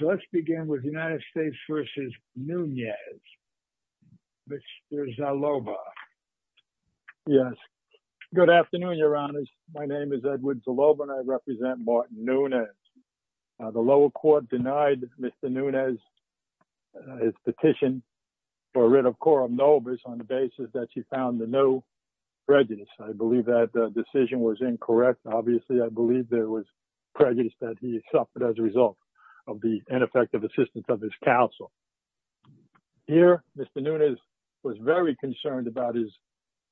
Let's begin with United States v. Nunez. Mr. Zaloba. Yes. Good afternoon, your honors. My name is Edward Zaloba, and I represent Martin Nunez. The lower court denied Mr. Nunez his petition for rid of Coram Nobis on the basis that he found the new prejudice. I believe that the decision was incorrect. Obviously, I believe there was as a result of the ineffective assistance of his counsel. Here, Mr. Nunez was very concerned about his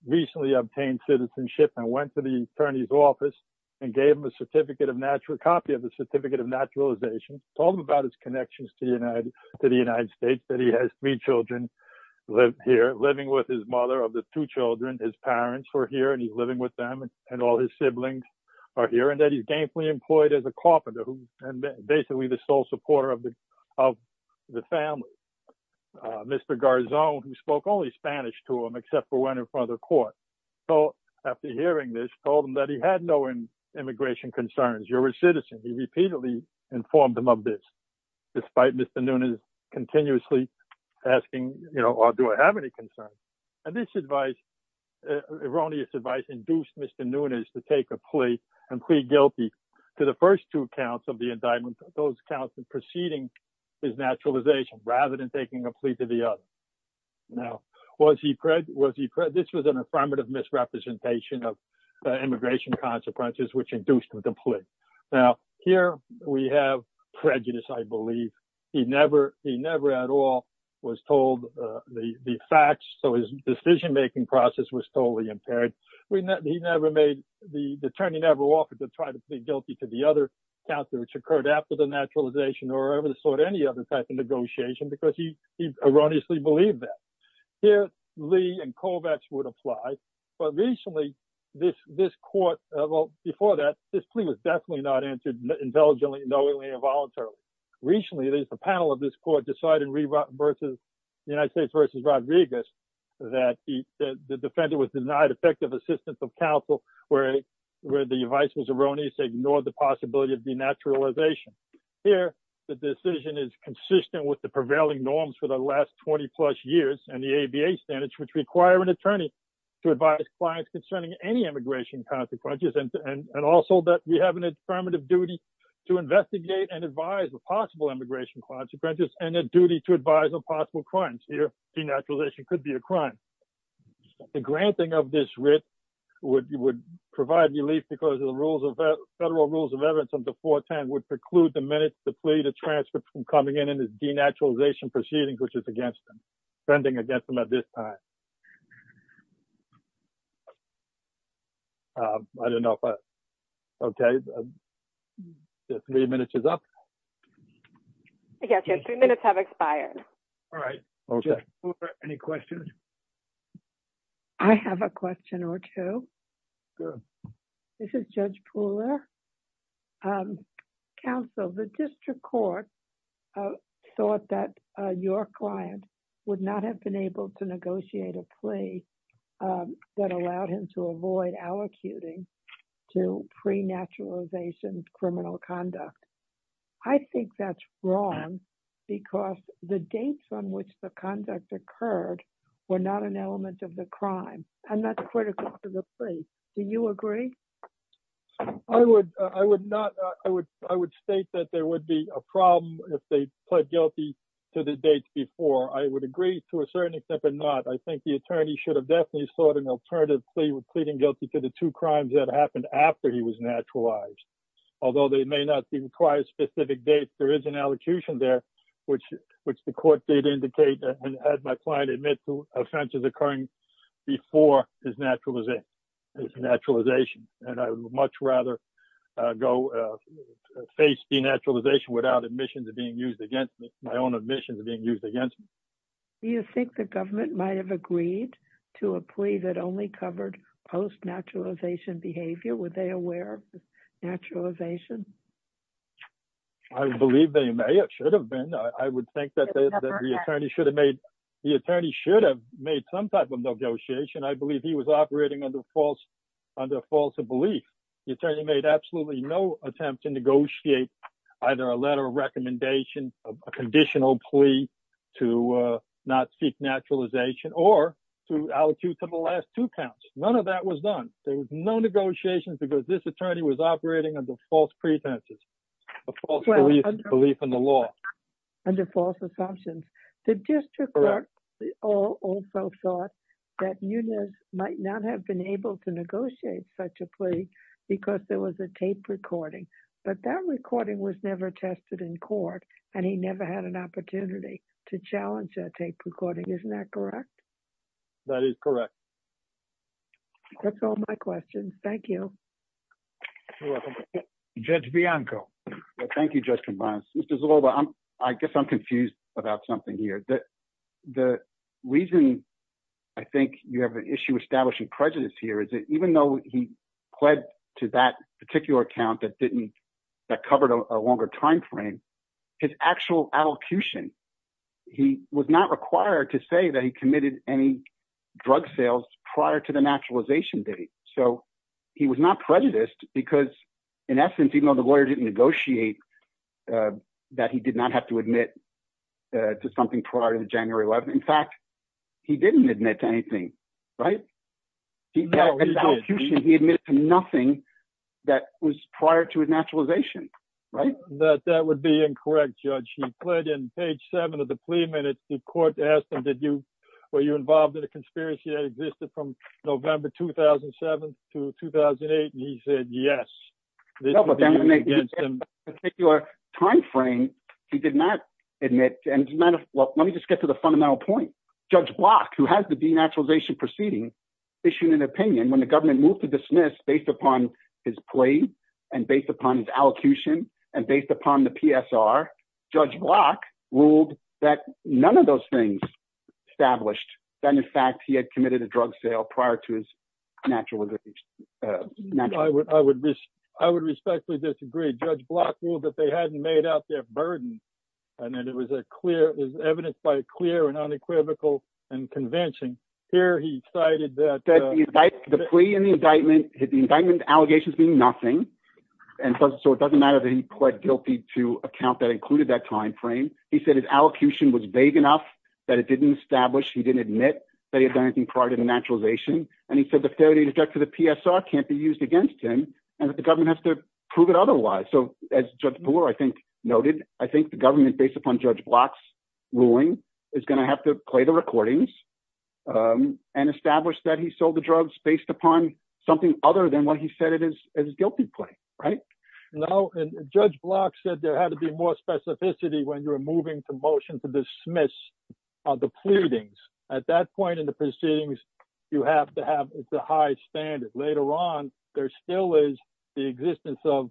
recently obtained citizenship and went to the attorney's office and gave him a copy of the certificate of naturalization, told him about his connections to the United States, that he has three children living with his mother of the two children. His parents were here, and he's living with them, and all his siblings are here, and that he's gainfully employed as and basically the sole supporter of the family. Mr. Garzon, who spoke only Spanish to him, except for when in front of the court. So after hearing this, told him that he had no immigration concerns. You're a citizen. He repeatedly informed him of this, despite Mr. Nunez continuously asking, you know, do I have any concerns? And this advice, erroneous advice, induced Mr. Nunez to take a plea and plead guilty to the first two counts of the indictment, those counts preceding his naturalization, rather than taking a plea to the other. Now, was he prejudiced? This was an affirmative misrepresentation of immigration consequences, which induced him to plead. Now, here we have prejudice, I believe. He never at all was told the facts, so his decision-making process was totally impaired. He never made, the attorney never offered to try to plead guilty to the other counts which occurred after the naturalization, or ever sought any other type of negotiation, because he erroneously believed that. Here, Lee and Kovacs would apply, but recently this court, well, before that, this plea was definitely not answered intelligently, knowingly, or voluntarily. Recently, there's a panel of this court deciding the United States versus Rodriguez, that the defendant was denied effective assistance of counsel, where the advice was erroneous, ignored the possibility of denaturalization. Here, the decision is consistent with the prevailing norms for the last 20-plus years, and the ABA standards, which require an attorney to advise clients concerning any immigration consequences, and also that we have an affirmative duty to investigate and advise the possible immigration consequences, and a duty to advise on possible crimes. Here, denaturalization could be a crime. The granting of this writ would provide relief because of the federal rules of evidence under 410 would preclude the minutes, the plea, the transcripts from coming in in this denaturalization proceedings, which is against them, fending against them at this time. I don't know if I, okay, the three minutes is up. Yes, your three minutes have expired. All right. Any questions? I have a question or two. This is Judge Pooler. Counsel, the district court thought that your client would not have been able to negotiate a plea that allowed him to avoid allocuting to pre-naturalization criminal conduct. I think that's wrong because the dates on which the conduct occurred were not an element of the crime, and that's critical to the plea. Do you agree? I would not. I would state that there would be a problem if they pled guilty to the dates before. I would agree to a certain extent, but not. I think the attorney should have definitely sought an alternative plea with pleading guilty to the two crimes that happened after he was naturalized, although they may not be required specific dates. There is an allocution there, which the court did indicate and had my client admit to offenses occurring before his naturalization, and I would much rather go face denaturalization without admissions being used against me, my own admissions being used against me. Do you think the government might have agreed to a plea that only covered post-naturalization behavior? Were they aware of naturalization? I believe they may or should have been. I would think that the attorney should have made some type of negotiation. I believe he was operating under false belief. The attorney made absolutely no attempt to negotiate either a letter of recommendation, a conditional plea to not seek naturalization, or to allocute to the last two counts. None of that was done. There was no negotiations because this attorney was operating under false pretenses, a false belief in the law. Under false assumptions. The district court also thought that Eunice might not have been able to negotiate such a plea because there was a tape recording, but that recording was never tested in court, and he never had an opportunity to challenge that tape recording. Isn't that correct? That is correct. That's all my questions. Thank you. Judge Bianco. Thank you, Judge Convance. Mr. Zoloba, I guess I'm confused about something here. The reason I think you have an issue establishing prejudice here is that even though he pled to that particular count that covered a longer time frame, his actual allocution, he was not required to say that he committed any drug sales prior to the naturalization date. So he was not prejudiced because, in essence, even though the lawyer didn't negotiate that he did not have to admit to something prior to January 11th, in fact, he didn't admit to anything, right? He admitted to nothing that was prior to his naturalization, right? That would be incorrect, Judge. He pled in page seven of the plea minutes. The court asked him, were you involved in a conspiracy that existed from November 2007 to 2008, and he said yes. In that particular time frame, he did not admit. Let me just get to the fundamental point. Judge Block, who has the denaturalization proceeding, issued an opinion. When the government moved to dismiss based upon his plea and based upon his allocution and based upon the PSR, Judge Block ruled that none of those things established that, in fact, he had committed a drug sale prior to his naturalization. I would respectfully disagree. Judge Block ruled that they hadn't made out their burden and that it was evidence by a clear and unequivocal and convention. Here he cited that- The plea and the indictment, the indictment allegations mean nothing, and so it doesn't matter that he pled guilty to a count that included that time frame. He said his allocution was vague enough that it didn't establish, he didn't admit that he had done anything prior to the naturalization, and he said the failure to deduct to the PSR can't be used against him and that the government has to prove it otherwise. As Judge Brewer, I think, noted, I think the government, based upon Judge Block's ruling, is going to have to play the recordings and establish that he sold the drugs based upon something other than what he said it is guilty play, right? No, and Judge Block said there had to be more specificity when you're moving to motion to dismiss the pleadings. At that point in the proceedings, you have to have the high standard. Later on, there still is the existence of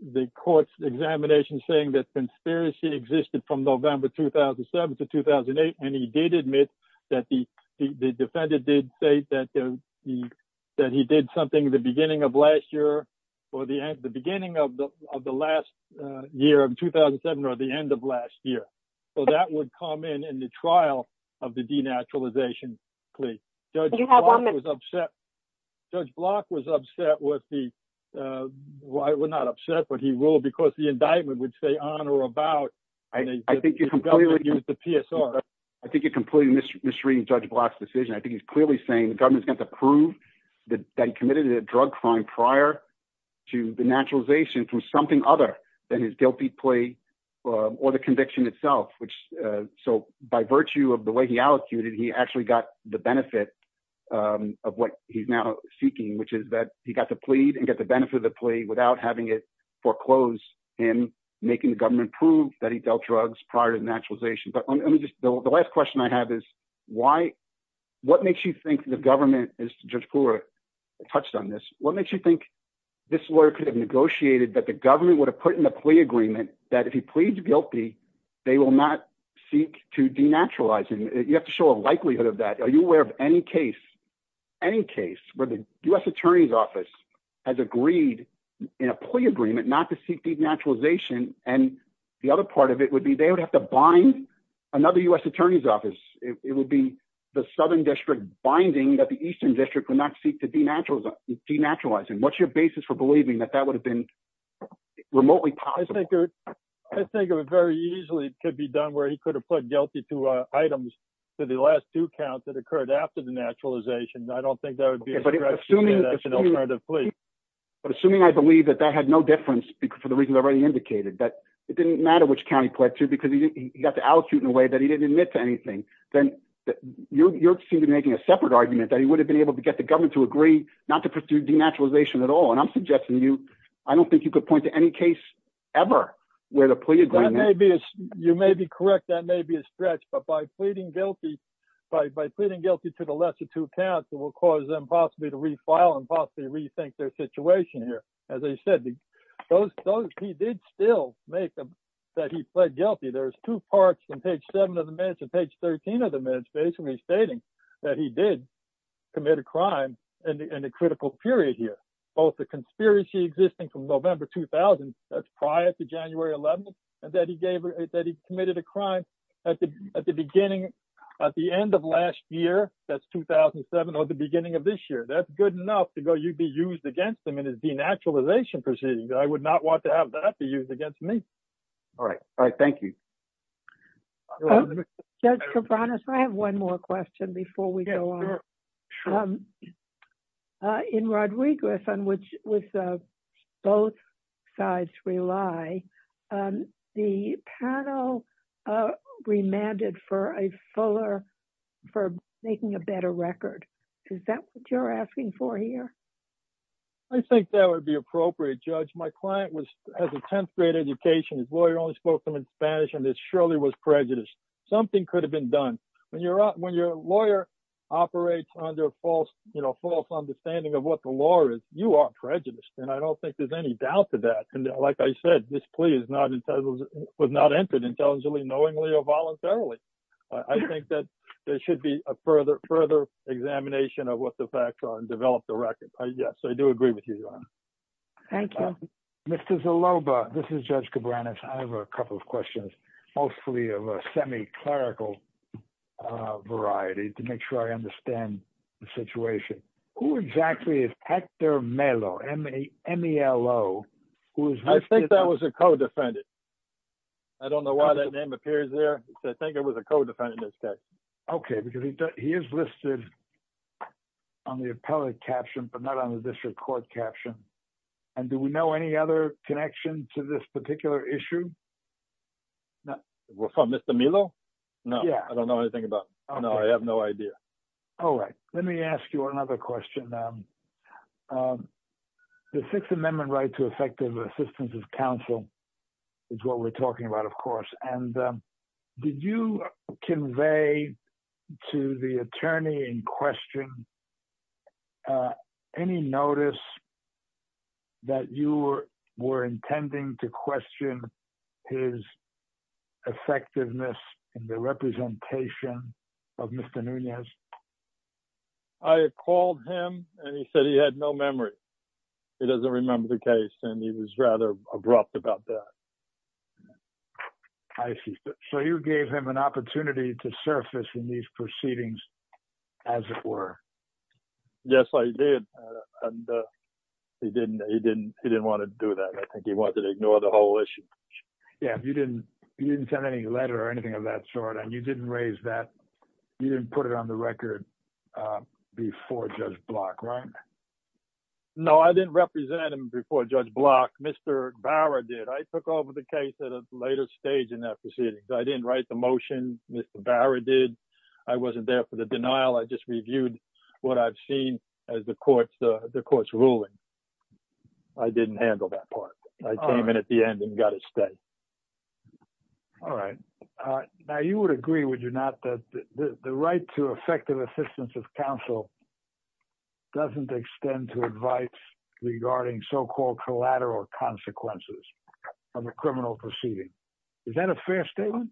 the court's examination saying that conspiracy existed from November 2007 to 2008, and he did admit that the defendant did say that he did something at the beginning of last year, or the beginning of the last year of 2007, or the end of last year. That would come in in the trial of the denaturalization plea. Judge Block was upset with the, well, not upset, but he ruled because the indictment would say on or about the PSR. I think you're completely misreading Judge Block's decision. I think he's clearly saying the government's going to have to prove that he committed a drug crime prior to the naturalization from something other than his guilty plea or the conviction itself. So, by virtue of the way he allocated, he actually got the benefit of what he's now seeking, which is that he got to plead and get the benefit of the plea without having it foreclose him making the government prove that he dealt drugs prior to the naturalization. The last question I have is, what makes you think the government, as Judge Poole touched on this, what makes you think this lawyer could have negotiated that the government would have put in the plea agreement that if he pleads guilty, they will not seek to denaturalize him? You have to show a likelihood of that. Are you aware of any case, any case where the U.S. Attorney's Office has agreed in a plea agreement not to seek denaturalization, and the other part of it would be they would have to bind another U.S. Attorney's Office. It would be the Southern District binding that the Eastern District would not seek to denaturalize him. What's your basis for believing that that would have been remotely possible? I think it very easily could be done where he could have pled guilty to items to the last due count that occurred after the naturalization. I don't think that would be a correct alternative plea. But assuming I believe that that had no difference for the reasons already indicated, that it didn't matter which county pled to because he got to allocute in a way that he didn't admit to anything, then you're seem to be making a separate argument that he would have been able to get the government to agree not to pursue denaturalization at all. I'm suggesting you, I don't think you could point to any case ever where the plea agreement... You may be correct. That may be a stretch. But by pleading guilty to the last due count, it will cause them possibly to refile and possibly rethink their situation here. As I said, he did still make that he pled guilty. There's two parts in page 7 of the minutes and page 13 of the minutes basically stating that he did commit a crime in a critical period here, both the conspiracy existing from November 2000, that's prior to January 11th, and that he committed a crime at the end of last year, that's 2007 or the beginning of this year. That's good enough to be used against him in his denaturalization proceedings. I would not want to have that be used against me. All right. All right. Thank you. Judge Cabranes, I have one more question before we go on. In Rodriguez, on which both sides rely, the panel remanded for a fuller for making a better record. Is that what you're asking for here? I think that would be appropriate, Judge. My client has a 10th grade education. His lawyer only spoke to him in Spanish and it surely was prejudiced. Something could have been done. When your lawyer operates under false understanding of what the law is, you are prejudiced. I don't think there's any doubt to that. Like I said, this plea was not entered intelligently, knowingly, or voluntarily. I think that there should be a further examination of what the facts are and develop the record. Yes, I do agree with you, Your Honor. Thank you. Mr. Zaloba, this is Judge Cabranes. I have a couple of questions, mostly of a semi-clerical variety to make sure I understand the situation. Who exactly is Hector Melo, M-E-L-O? I think that was a co-defendant. I don't know why that name appears there. I think it was a co-defendant instead. Okay, because he is listed on the appellate caption, but not on the district court caption. Do we know any other connection to this particular issue? We're from Mr. Melo? No, I don't know anything about him. No, I have no idea. Let me ask you another question. The Sixth Amendment right to effective assistance of counsel is what we're talking about, of course. Did you convey to the attorney in question any notice that you were intending to question his effectiveness in the representation of Mr. Nunez? I called him and he said he had no memory. He doesn't remember the case and he was rather abrupt about that. I see. So you gave him an opportunity to surface in these proceedings as it were. Yes, I did. He didn't want to do that. I think he wanted to ignore the whole issue. Yeah, you didn't send any letter or anything of that sort and you didn't raise that. You didn't put it on the record before Judge Block, right? No, I didn't represent him before Judge Block. Mr. Bower did. I took over the case at a later stage in that proceeding. I didn't write the motion. Mr. Bower did. I wasn't there for the denial. I just reviewed what I've seen as the court's ruling. I didn't handle that part. I came in at the end and got a stay. All right. Now, you would agree, would you not, that the right to effective assistance of counsel doesn't extend to advice regarding so-called collateral consequences of a criminal proceeding? Is that a fair statement?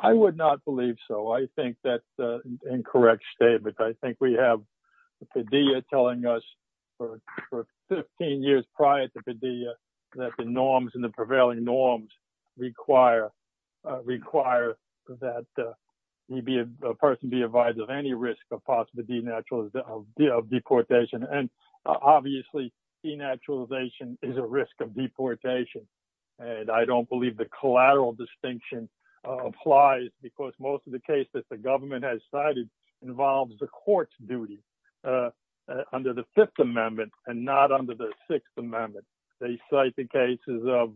I would not believe so. I think that's an incorrect statement. I think we have Padilla telling us for 15 years prior to Padilla that the norms and the prevailing norms require that a person be advised of any risk of possible of deportation. Obviously, denaturalization is a risk of deportation. I don't believe the collateral distinction applies because most of the cases that the government has cited involves the court's duty under the Fifth Amendment and not under the Sixth Amendment. They cite the cases of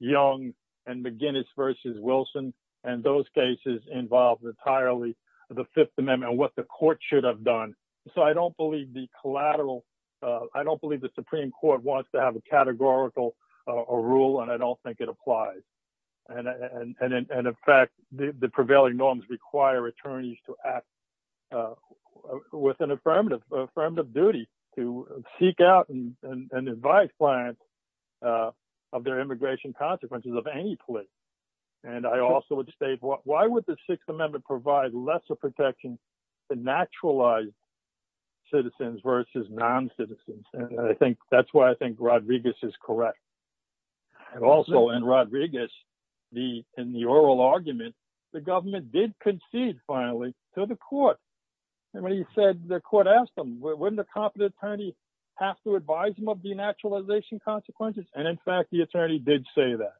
Young and McGinnis v. Wilson, and those cases involve entirely the Fifth Amendment and what the court should have done. I don't believe the Supreme Court wants to have a categorical rule, and I don't think it applies. In fact, the prevailing norms require attorneys to act with an affirmative duty to seek out and advise clients of their protections to naturalize citizens versus non-citizens. That's why I think Rodriguez is correct. Also, in Rodriguez, in the oral argument, the government did concede finally to the court. The court asked him, wouldn't a competent attorney have to advise him of denaturalization consequences? In fact, the attorney did say that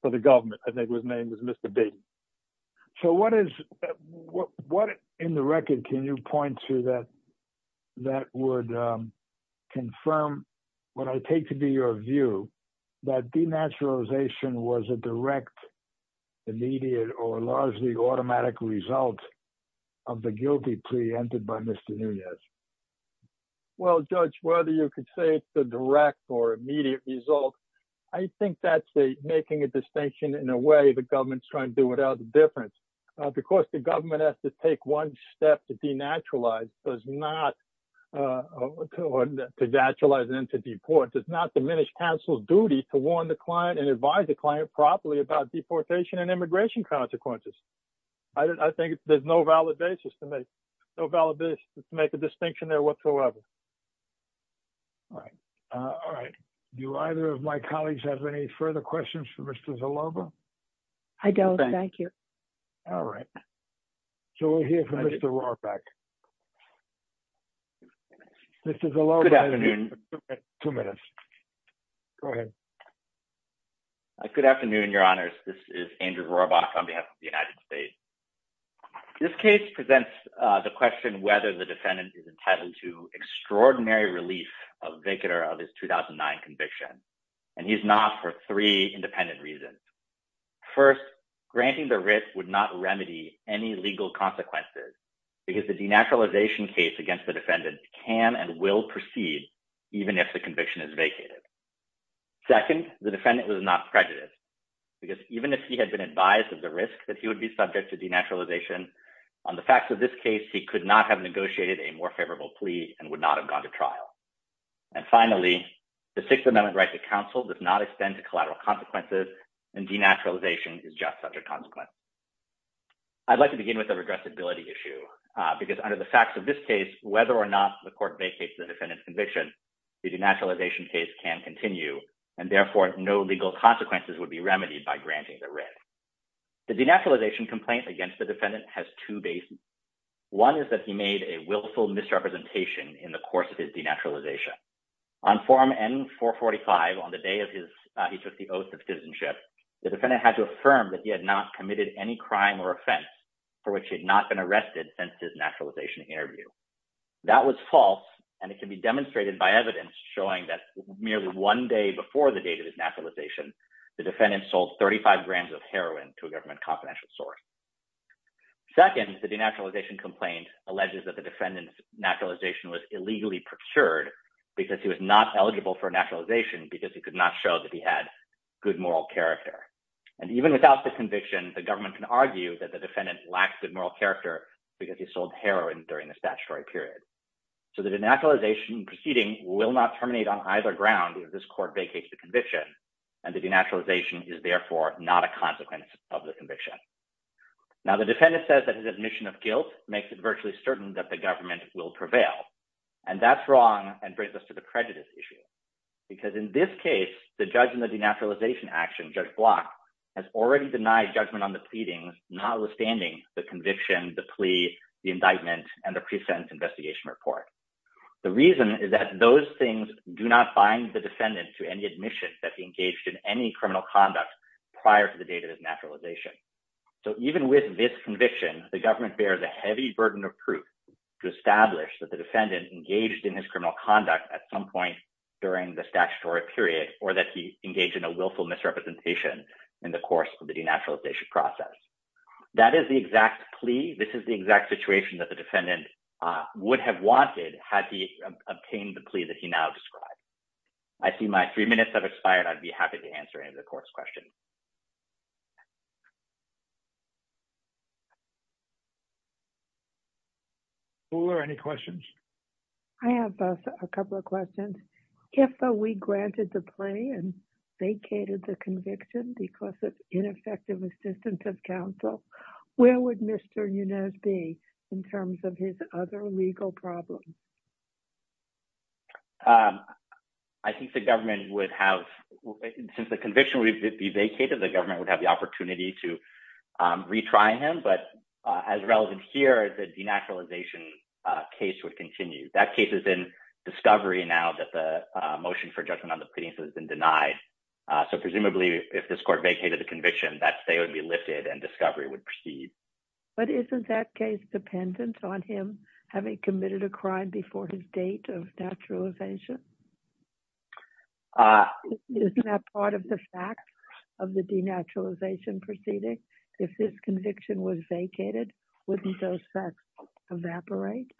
for the government. I think his name was Mr. Nunez. What in the record can you point to that would confirm what I take to be your view that denaturalization was a direct, immediate, or largely automatic result of the guilty plea entered by Mr. Nunez? Well, Judge, whether you could say it's a direct or immediate result, I think that's the making a distinction in a way the government's trying to do without the difference. Because the government has to take one step to denaturalize and to deport, does not diminish counsel's duty to warn the client and advise the client properly about deportation and immigration consequences. I think there's no valid basis to make a distinction there whatsoever. All right. Do either of my colleagues have any further questions for Mr. Zaloba? I don't. Thank you. All right. So we'll hear from Mr. Rohrabach. Mr. Zaloba. Good afternoon. Two minutes. Go ahead. Good afternoon, Your Honors. This is Andrew extraordinary relief of vacator of his 2009 conviction. And he's not for three independent reasons. First, granting the writ would not remedy any legal consequences because the denaturalization case against the defendant can and will proceed even if the conviction is vacated. Second, the defendant was not prejudiced because even if he had been advised of the risk that he would be subject to denaturalization, on the facts of this case, he could not have negotiated a more and would not have gone to trial. And finally, the Sixth Amendment right to counsel does not extend to collateral consequences and denaturalization is just such a consequence. I'd like to begin with the regressibility issue because under the facts of this case, whether or not the court vacates the defendant's conviction, the denaturalization case can continue and therefore no legal consequences would be remedied by granting the writ. The denaturalization complaint against the defendant has two bases. One is that he made a willful misrepresentation in the course of his denaturalization. On form N-445 on the day of his, he took the oath of citizenship, the defendant had to affirm that he had not committed any crime or offense for which he had not been arrested since his naturalization interview. That was false and it can be demonstrated by evidence showing that merely one day before the date of his naturalization, the defendant sold 35 grams of heroin to a government confidential source. Second, the denaturalization complaint alleges that the defendant's naturalization was illegally procured because he was not eligible for naturalization because he could not show that he had good moral character. And even without the conviction, the government can argue that the defendant lacks good moral character because he sold heroin during the statutory period. So the denaturalization proceeding will not terminate on either ground if this court vacates the conviction and the denaturalization is therefore not a consequence of the conviction. Now the defendant says that his admission of guilt makes it virtually certain that the government will prevail. And that's wrong and brings us to the prejudice issue. Because in this case, the judge in the denaturalization action, Judge Block, has already denied judgment on the pleadings notwithstanding the conviction, the plea, the indictment, and the pre-sentence investigation report. The reason is that those things do not bind the defendant to any admission that he engaged in any criminal conduct prior to the date of his naturalization. So even with this conviction, the government bears a heavy burden of proof to establish that the defendant engaged in his criminal conduct at some point during the statutory period, or that he engaged in a willful misrepresentation in the course of the denaturalization process. That is the exact plea. This is the exact situation that the defendant would have wanted had he obtained the plea that he now described. I see my three minutes have expired. I'd be happy to answer any of the court's questions. Hooler, any questions? I have a couple of questions. If we granted the plea and vacated the conviction because of ineffective assistance of counsel, where would Mr. Yunez be in terms of his other legal problems? I think the government would have, since the conviction would be vacated, the government would have the opportunity to retry him. But as relevant here, the denaturalization case would continue. That case is in discovery now that the motion for judgment on the pleadings has been denied. So presumably, if this court vacated the conviction, that say would be lifted and discovery would proceed. But isn't that case dependent on him having committed a crime before his date of naturalization? Isn't that part of the facts of the denaturalization proceeding? If this conviction was vacated, wouldn't those facts evaporate?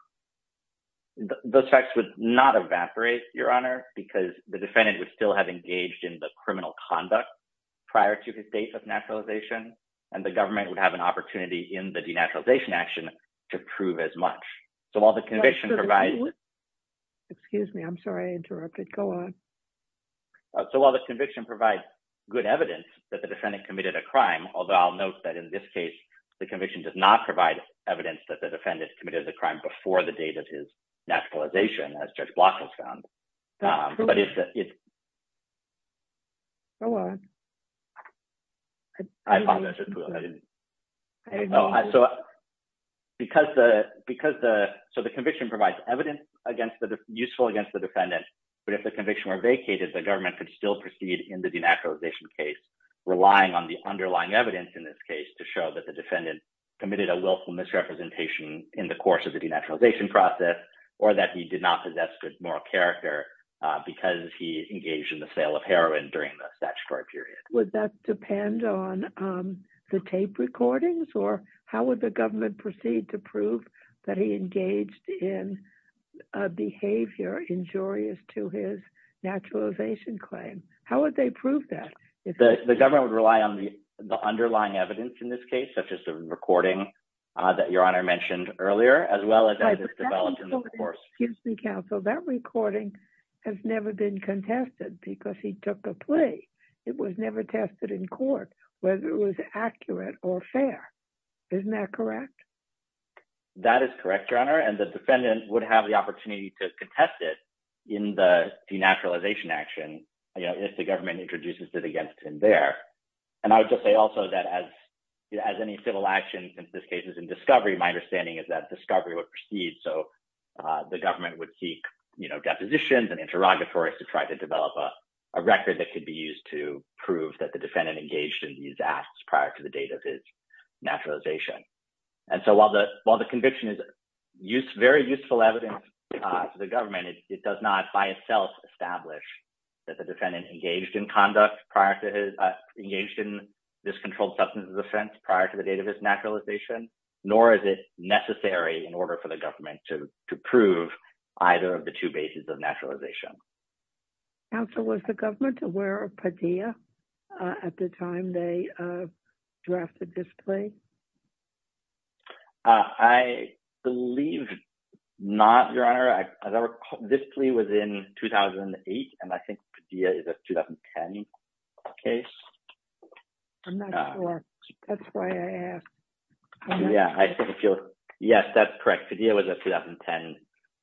Those facts would not evaporate, Your Honor, because the defendant would still have engaged in the criminal conduct prior to his date of naturalization, and the government would have an opportunity in the denaturalization action to prove as much. So while the conviction provides... Excuse me. I'm sorry I interrupted. Go on. So while the conviction provides good evidence that the defendant committed a crime, although I'll note that in this case, the conviction does not provide evidence that the defendant committed the crime before the date of his naturalization, as Judge Block has found. Go on. I apologize. So the conviction provides evidence useful against the defendant, but if the conviction were vacated, the government could still proceed in the denaturalization case, relying on the underlying evidence in this case to show that the defendant committed a willful misrepresentation in the course of the denaturalization process, or that he did not possess good moral character because he engaged in the sale of heroin during the statutory period. Would that depend on the tape recordings, or how would the government proceed to prove that he engaged in a behavior injurious to his naturalization claim? How would they prove that? The government would rely on the underlying evidence in this case, such as the recording that Your Honor mentioned earlier, as well as as it's developed in the course. Excuse me, counsel. That recording has never been contested because he took a plea. It was never tested in court whether it was accurate or fair. Isn't that correct? That is correct, Your Honor, and the defendant would have the opportunity to contest it in the denaturalization action if the government introduces it against him there. And I would just say also that as any civil action in this case is in discovery, my understanding is that discovery would proceed. So the government would seek depositions and interrogatories to try to develop a record that could be used to prove that the defendant engaged in these acts prior to the date of his naturalization. And so while the conviction is very useful evidence for the government, it does not by itself establish that the defendant engaged conduct prior to his engaged in this controlled substance offense prior to the date of his naturalization, nor is it necessary in order for the government to prove either of the two bases of naturalization. Counsel, was the government aware of Padilla at the time they drafted this plea? I believe not, Your Honor. As I recall, this plea was in 2008, and I think Padilla is a 2010 case. I'm not sure. That's why I asked. Yeah, I think you're... Yes, that's correct. Padilla was a 2010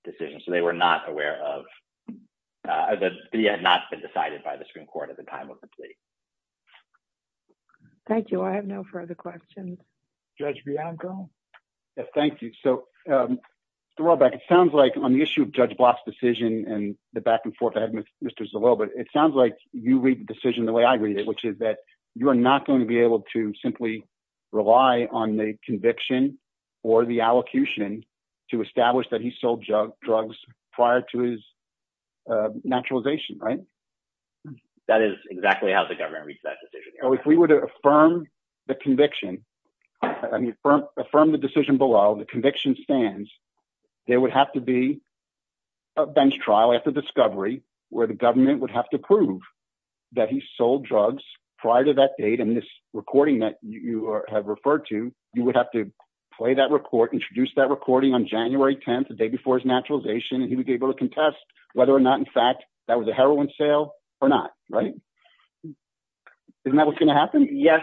decision, so they were not aware of... Padilla had not been decided by the Supreme Court at the time of the plea. Thank you. I have no further questions. Judge Bianco? Yes, thank you. So to roll back, it sounds like on the issue of Judge Block's decision and the back and forth with Mr. Zolo, but it sounds like you read the decision the way I read it, which is that you are not going to be able to simply rely on the conviction or the allocution to establish that he sold drugs prior to his naturalization, right? That is exactly how the conviction... Affirm the decision below, the conviction stands. There would have to be a bench trial after discovery where the government would have to prove that he sold drugs prior to that date, and this recording that you have referred to, you would have to play that report, introduce that recording on January 10th, the day before his naturalization, and he would be able to contest whether or not, in fact, that was a heroin sale or not, right? Isn't that what's going to happen? Yes.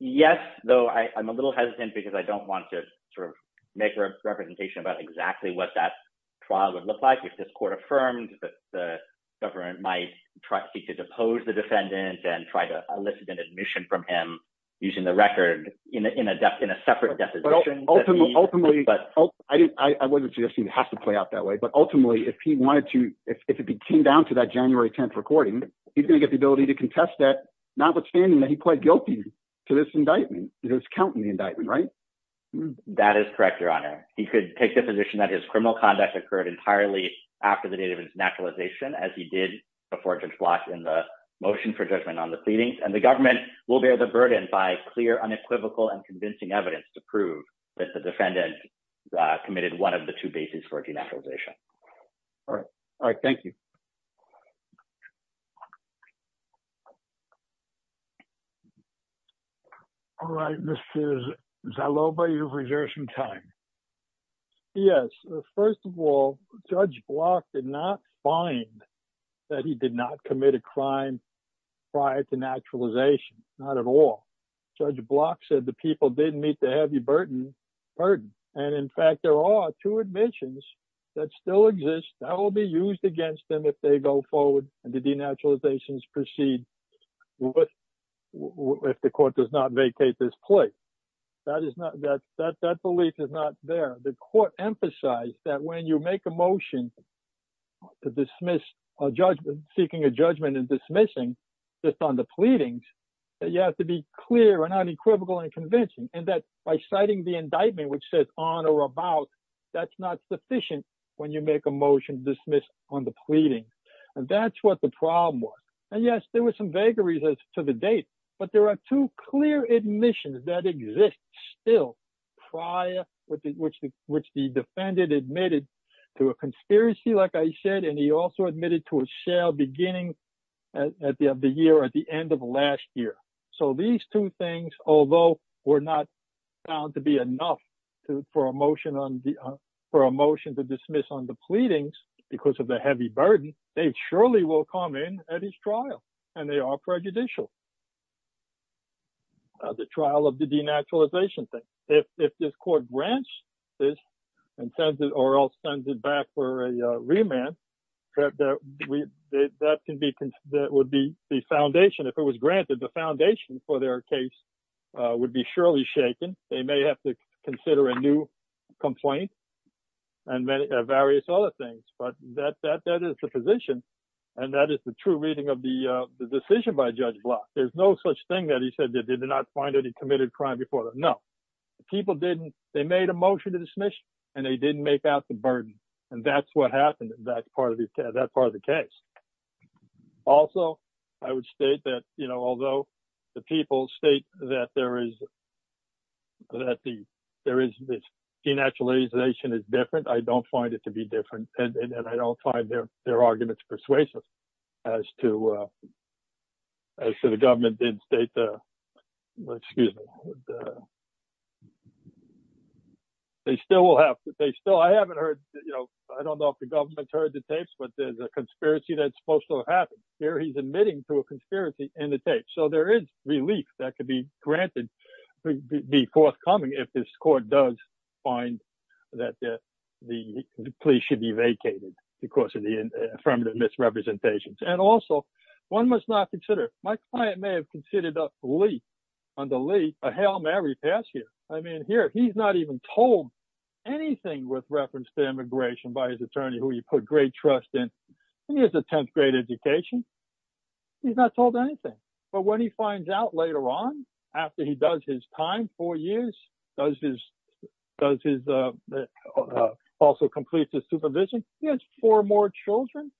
Yes, though I'm a little hesitant because I don't want to sort of make a representation about exactly what that trial would look like if this court affirmed that the government might seek to depose the defendant and try to elicit an admission from him using the record in a separate definition. Ultimately, I wouldn't suggest it has to play out that way, but ultimately, if he wanted to, if it came down to that January 10th recording, he's going to get the possibility to contest that, notwithstanding that he pled guilty to this indictment. It was counting the indictment, right? That is correct, Your Honor. He could take the position that his criminal conduct occurred entirely after the date of his naturalization, as he did before Judge Block in the motion for judgment on the pleadings, and the government will bear the burden by clear, unequivocal, and convincing evidence to prove that the defendant committed one of the two crimes prior to naturalization. All right. All right. Thank you. All right. Mr. Zaloba, you've reserved some time. Yes. First of all, Judge Block did not find that he did not commit a crime prior to naturalization. Not at all. Judge Block said the people didn't meet the heavy burden. In fact, there are two admissions that still exist that will be used against them if they go forward and the denaturalizations proceed if the court does not vacate this plea. That belief is not there. The court emphasized that when you make a motion to dismiss a judgment, seeking a judgment and dismissing just on the pleadings, that you have to be clear and unequivocal and convincing, and that by citing the indictment, which says on or about, that's not sufficient when you make a motion to dismiss on the pleadings. And that's what the problem was. And yes, there were some vagaries to the date, but there are two clear admissions that exist still prior, which the defendant admitted to a conspiracy, like I said, and he also admitted to a shell beginning of the year at the end of last year. So these two things, although were not found to be enough for a motion to dismiss on the pleadings because of the heavy burden, they surely will come in at his trial, and they are prejudicial. The trial of the denaturalization thing. If this court grants this or else sends it back for a remand, that would be the foundation. If it was granted, the foundation for their case would be surely shaken. They may have to consider a new complaint and various other things, but that is the position, and that is the true reading of the decision by Judge Block. There's no such thing that he said they did not find any committed crime before. No, people didn't. They made a motion and they didn't make out the burden, and that's what happened in that part of the case. Also, I would state that although the people state that denaturalization is different, I don't find it to be different, and I don't find their arguments persuasive as to the government did state. I haven't heard. I don't know if the government heard the tapes, but there's a conspiracy that's supposed to happen. Here, he's admitting to a conspiracy in the tapes, so there is relief that could be granted, be forthcoming if this court does find that the police should be vacated because of the affirmative misrepresentations. Also, one must not consider—my client may have considered a leak, a Hail Mary past here. I mean, here, he's not even told anything with reference to immigration by his attorney, who he put great trust in, and he has a 10th grade education. He's not told anything, but when he finds out later on after he does his time, four years, also completes his supervision, he has four more children.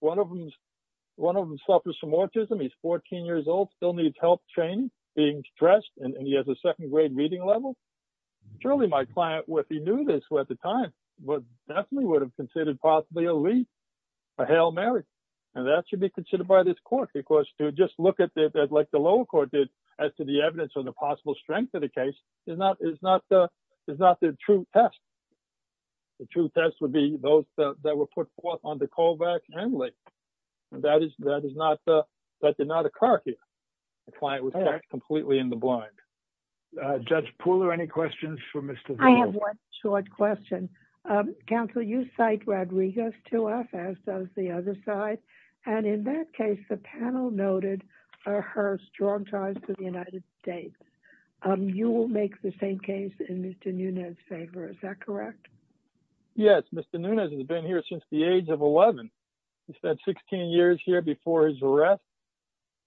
One of them suffers from autism. He's 14 years old, still needs help training, being stressed, and he has a second grade reading level. Surely, my client, if he knew this at the time, definitely would have considered possibly a leak, a Hail Mary, and that should be considered by this court because to just look at it like the lower court did as to the evidence or the possible strength of the case is not the true test. The true test would be those that were put forth on the callback and leak. That did not occur here. The client was kept completely in the blind. Judge Pooler, any questions for Mr. Nunez? I have one short question. Counsel, you cite Rodriguez to us as does the other side, and in that case, the panel noted her strong ties to the United States. You will make the same case in Mr. Nunez's favor. Is that correct? Yes. Mr. Nunez has been here since the age of 11. He spent 16 years here before his arrest.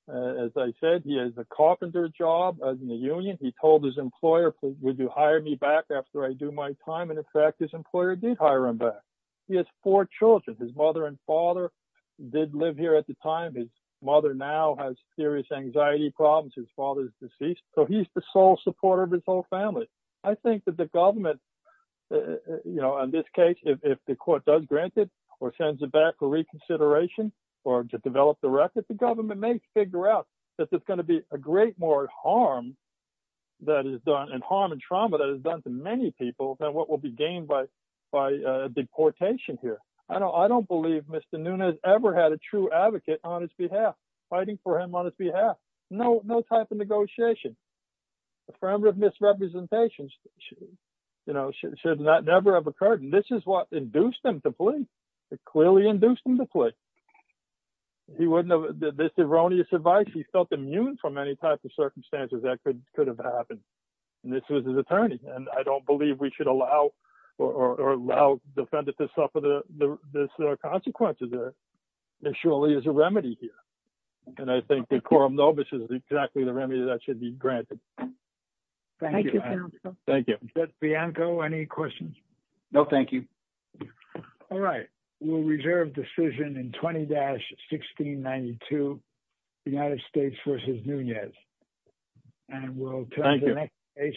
As I said, he has a carpenter job in the union. He told his employer, would you hire me back after I do my time? In fact, his employer did hire him back. He has four children. His mother and father did live here at the time. His mother now has serious issues. He's the sole supporter of his whole family. I think that the government, in this case, if the court does grant it or sends it back for reconsideration, or to develop the record, the government may figure out that there's going to be a great more harm and trauma that is done to many people than what will be gained by deportation here. I don't believe Mr. Nunez ever had a true advocate on his behalf, fighting for him on his behalf. No type of negotiation. Affirmative misrepresentation should never have occurred. This is what induced him to flee. It clearly induced him to flee. This erroneous advice, he felt immune from any type of circumstances that could have happened. This was his attorney. I don't believe we should allow the defendant to suffer the consequences. There surely is a remedy here. I think the Coram Nobis is exactly the remedy that should be granted. Thank you. Bianco, any questions? No, thank you. All right. We'll reserve decision in 20-1692, United States versus Nunez. We'll turn to the next case.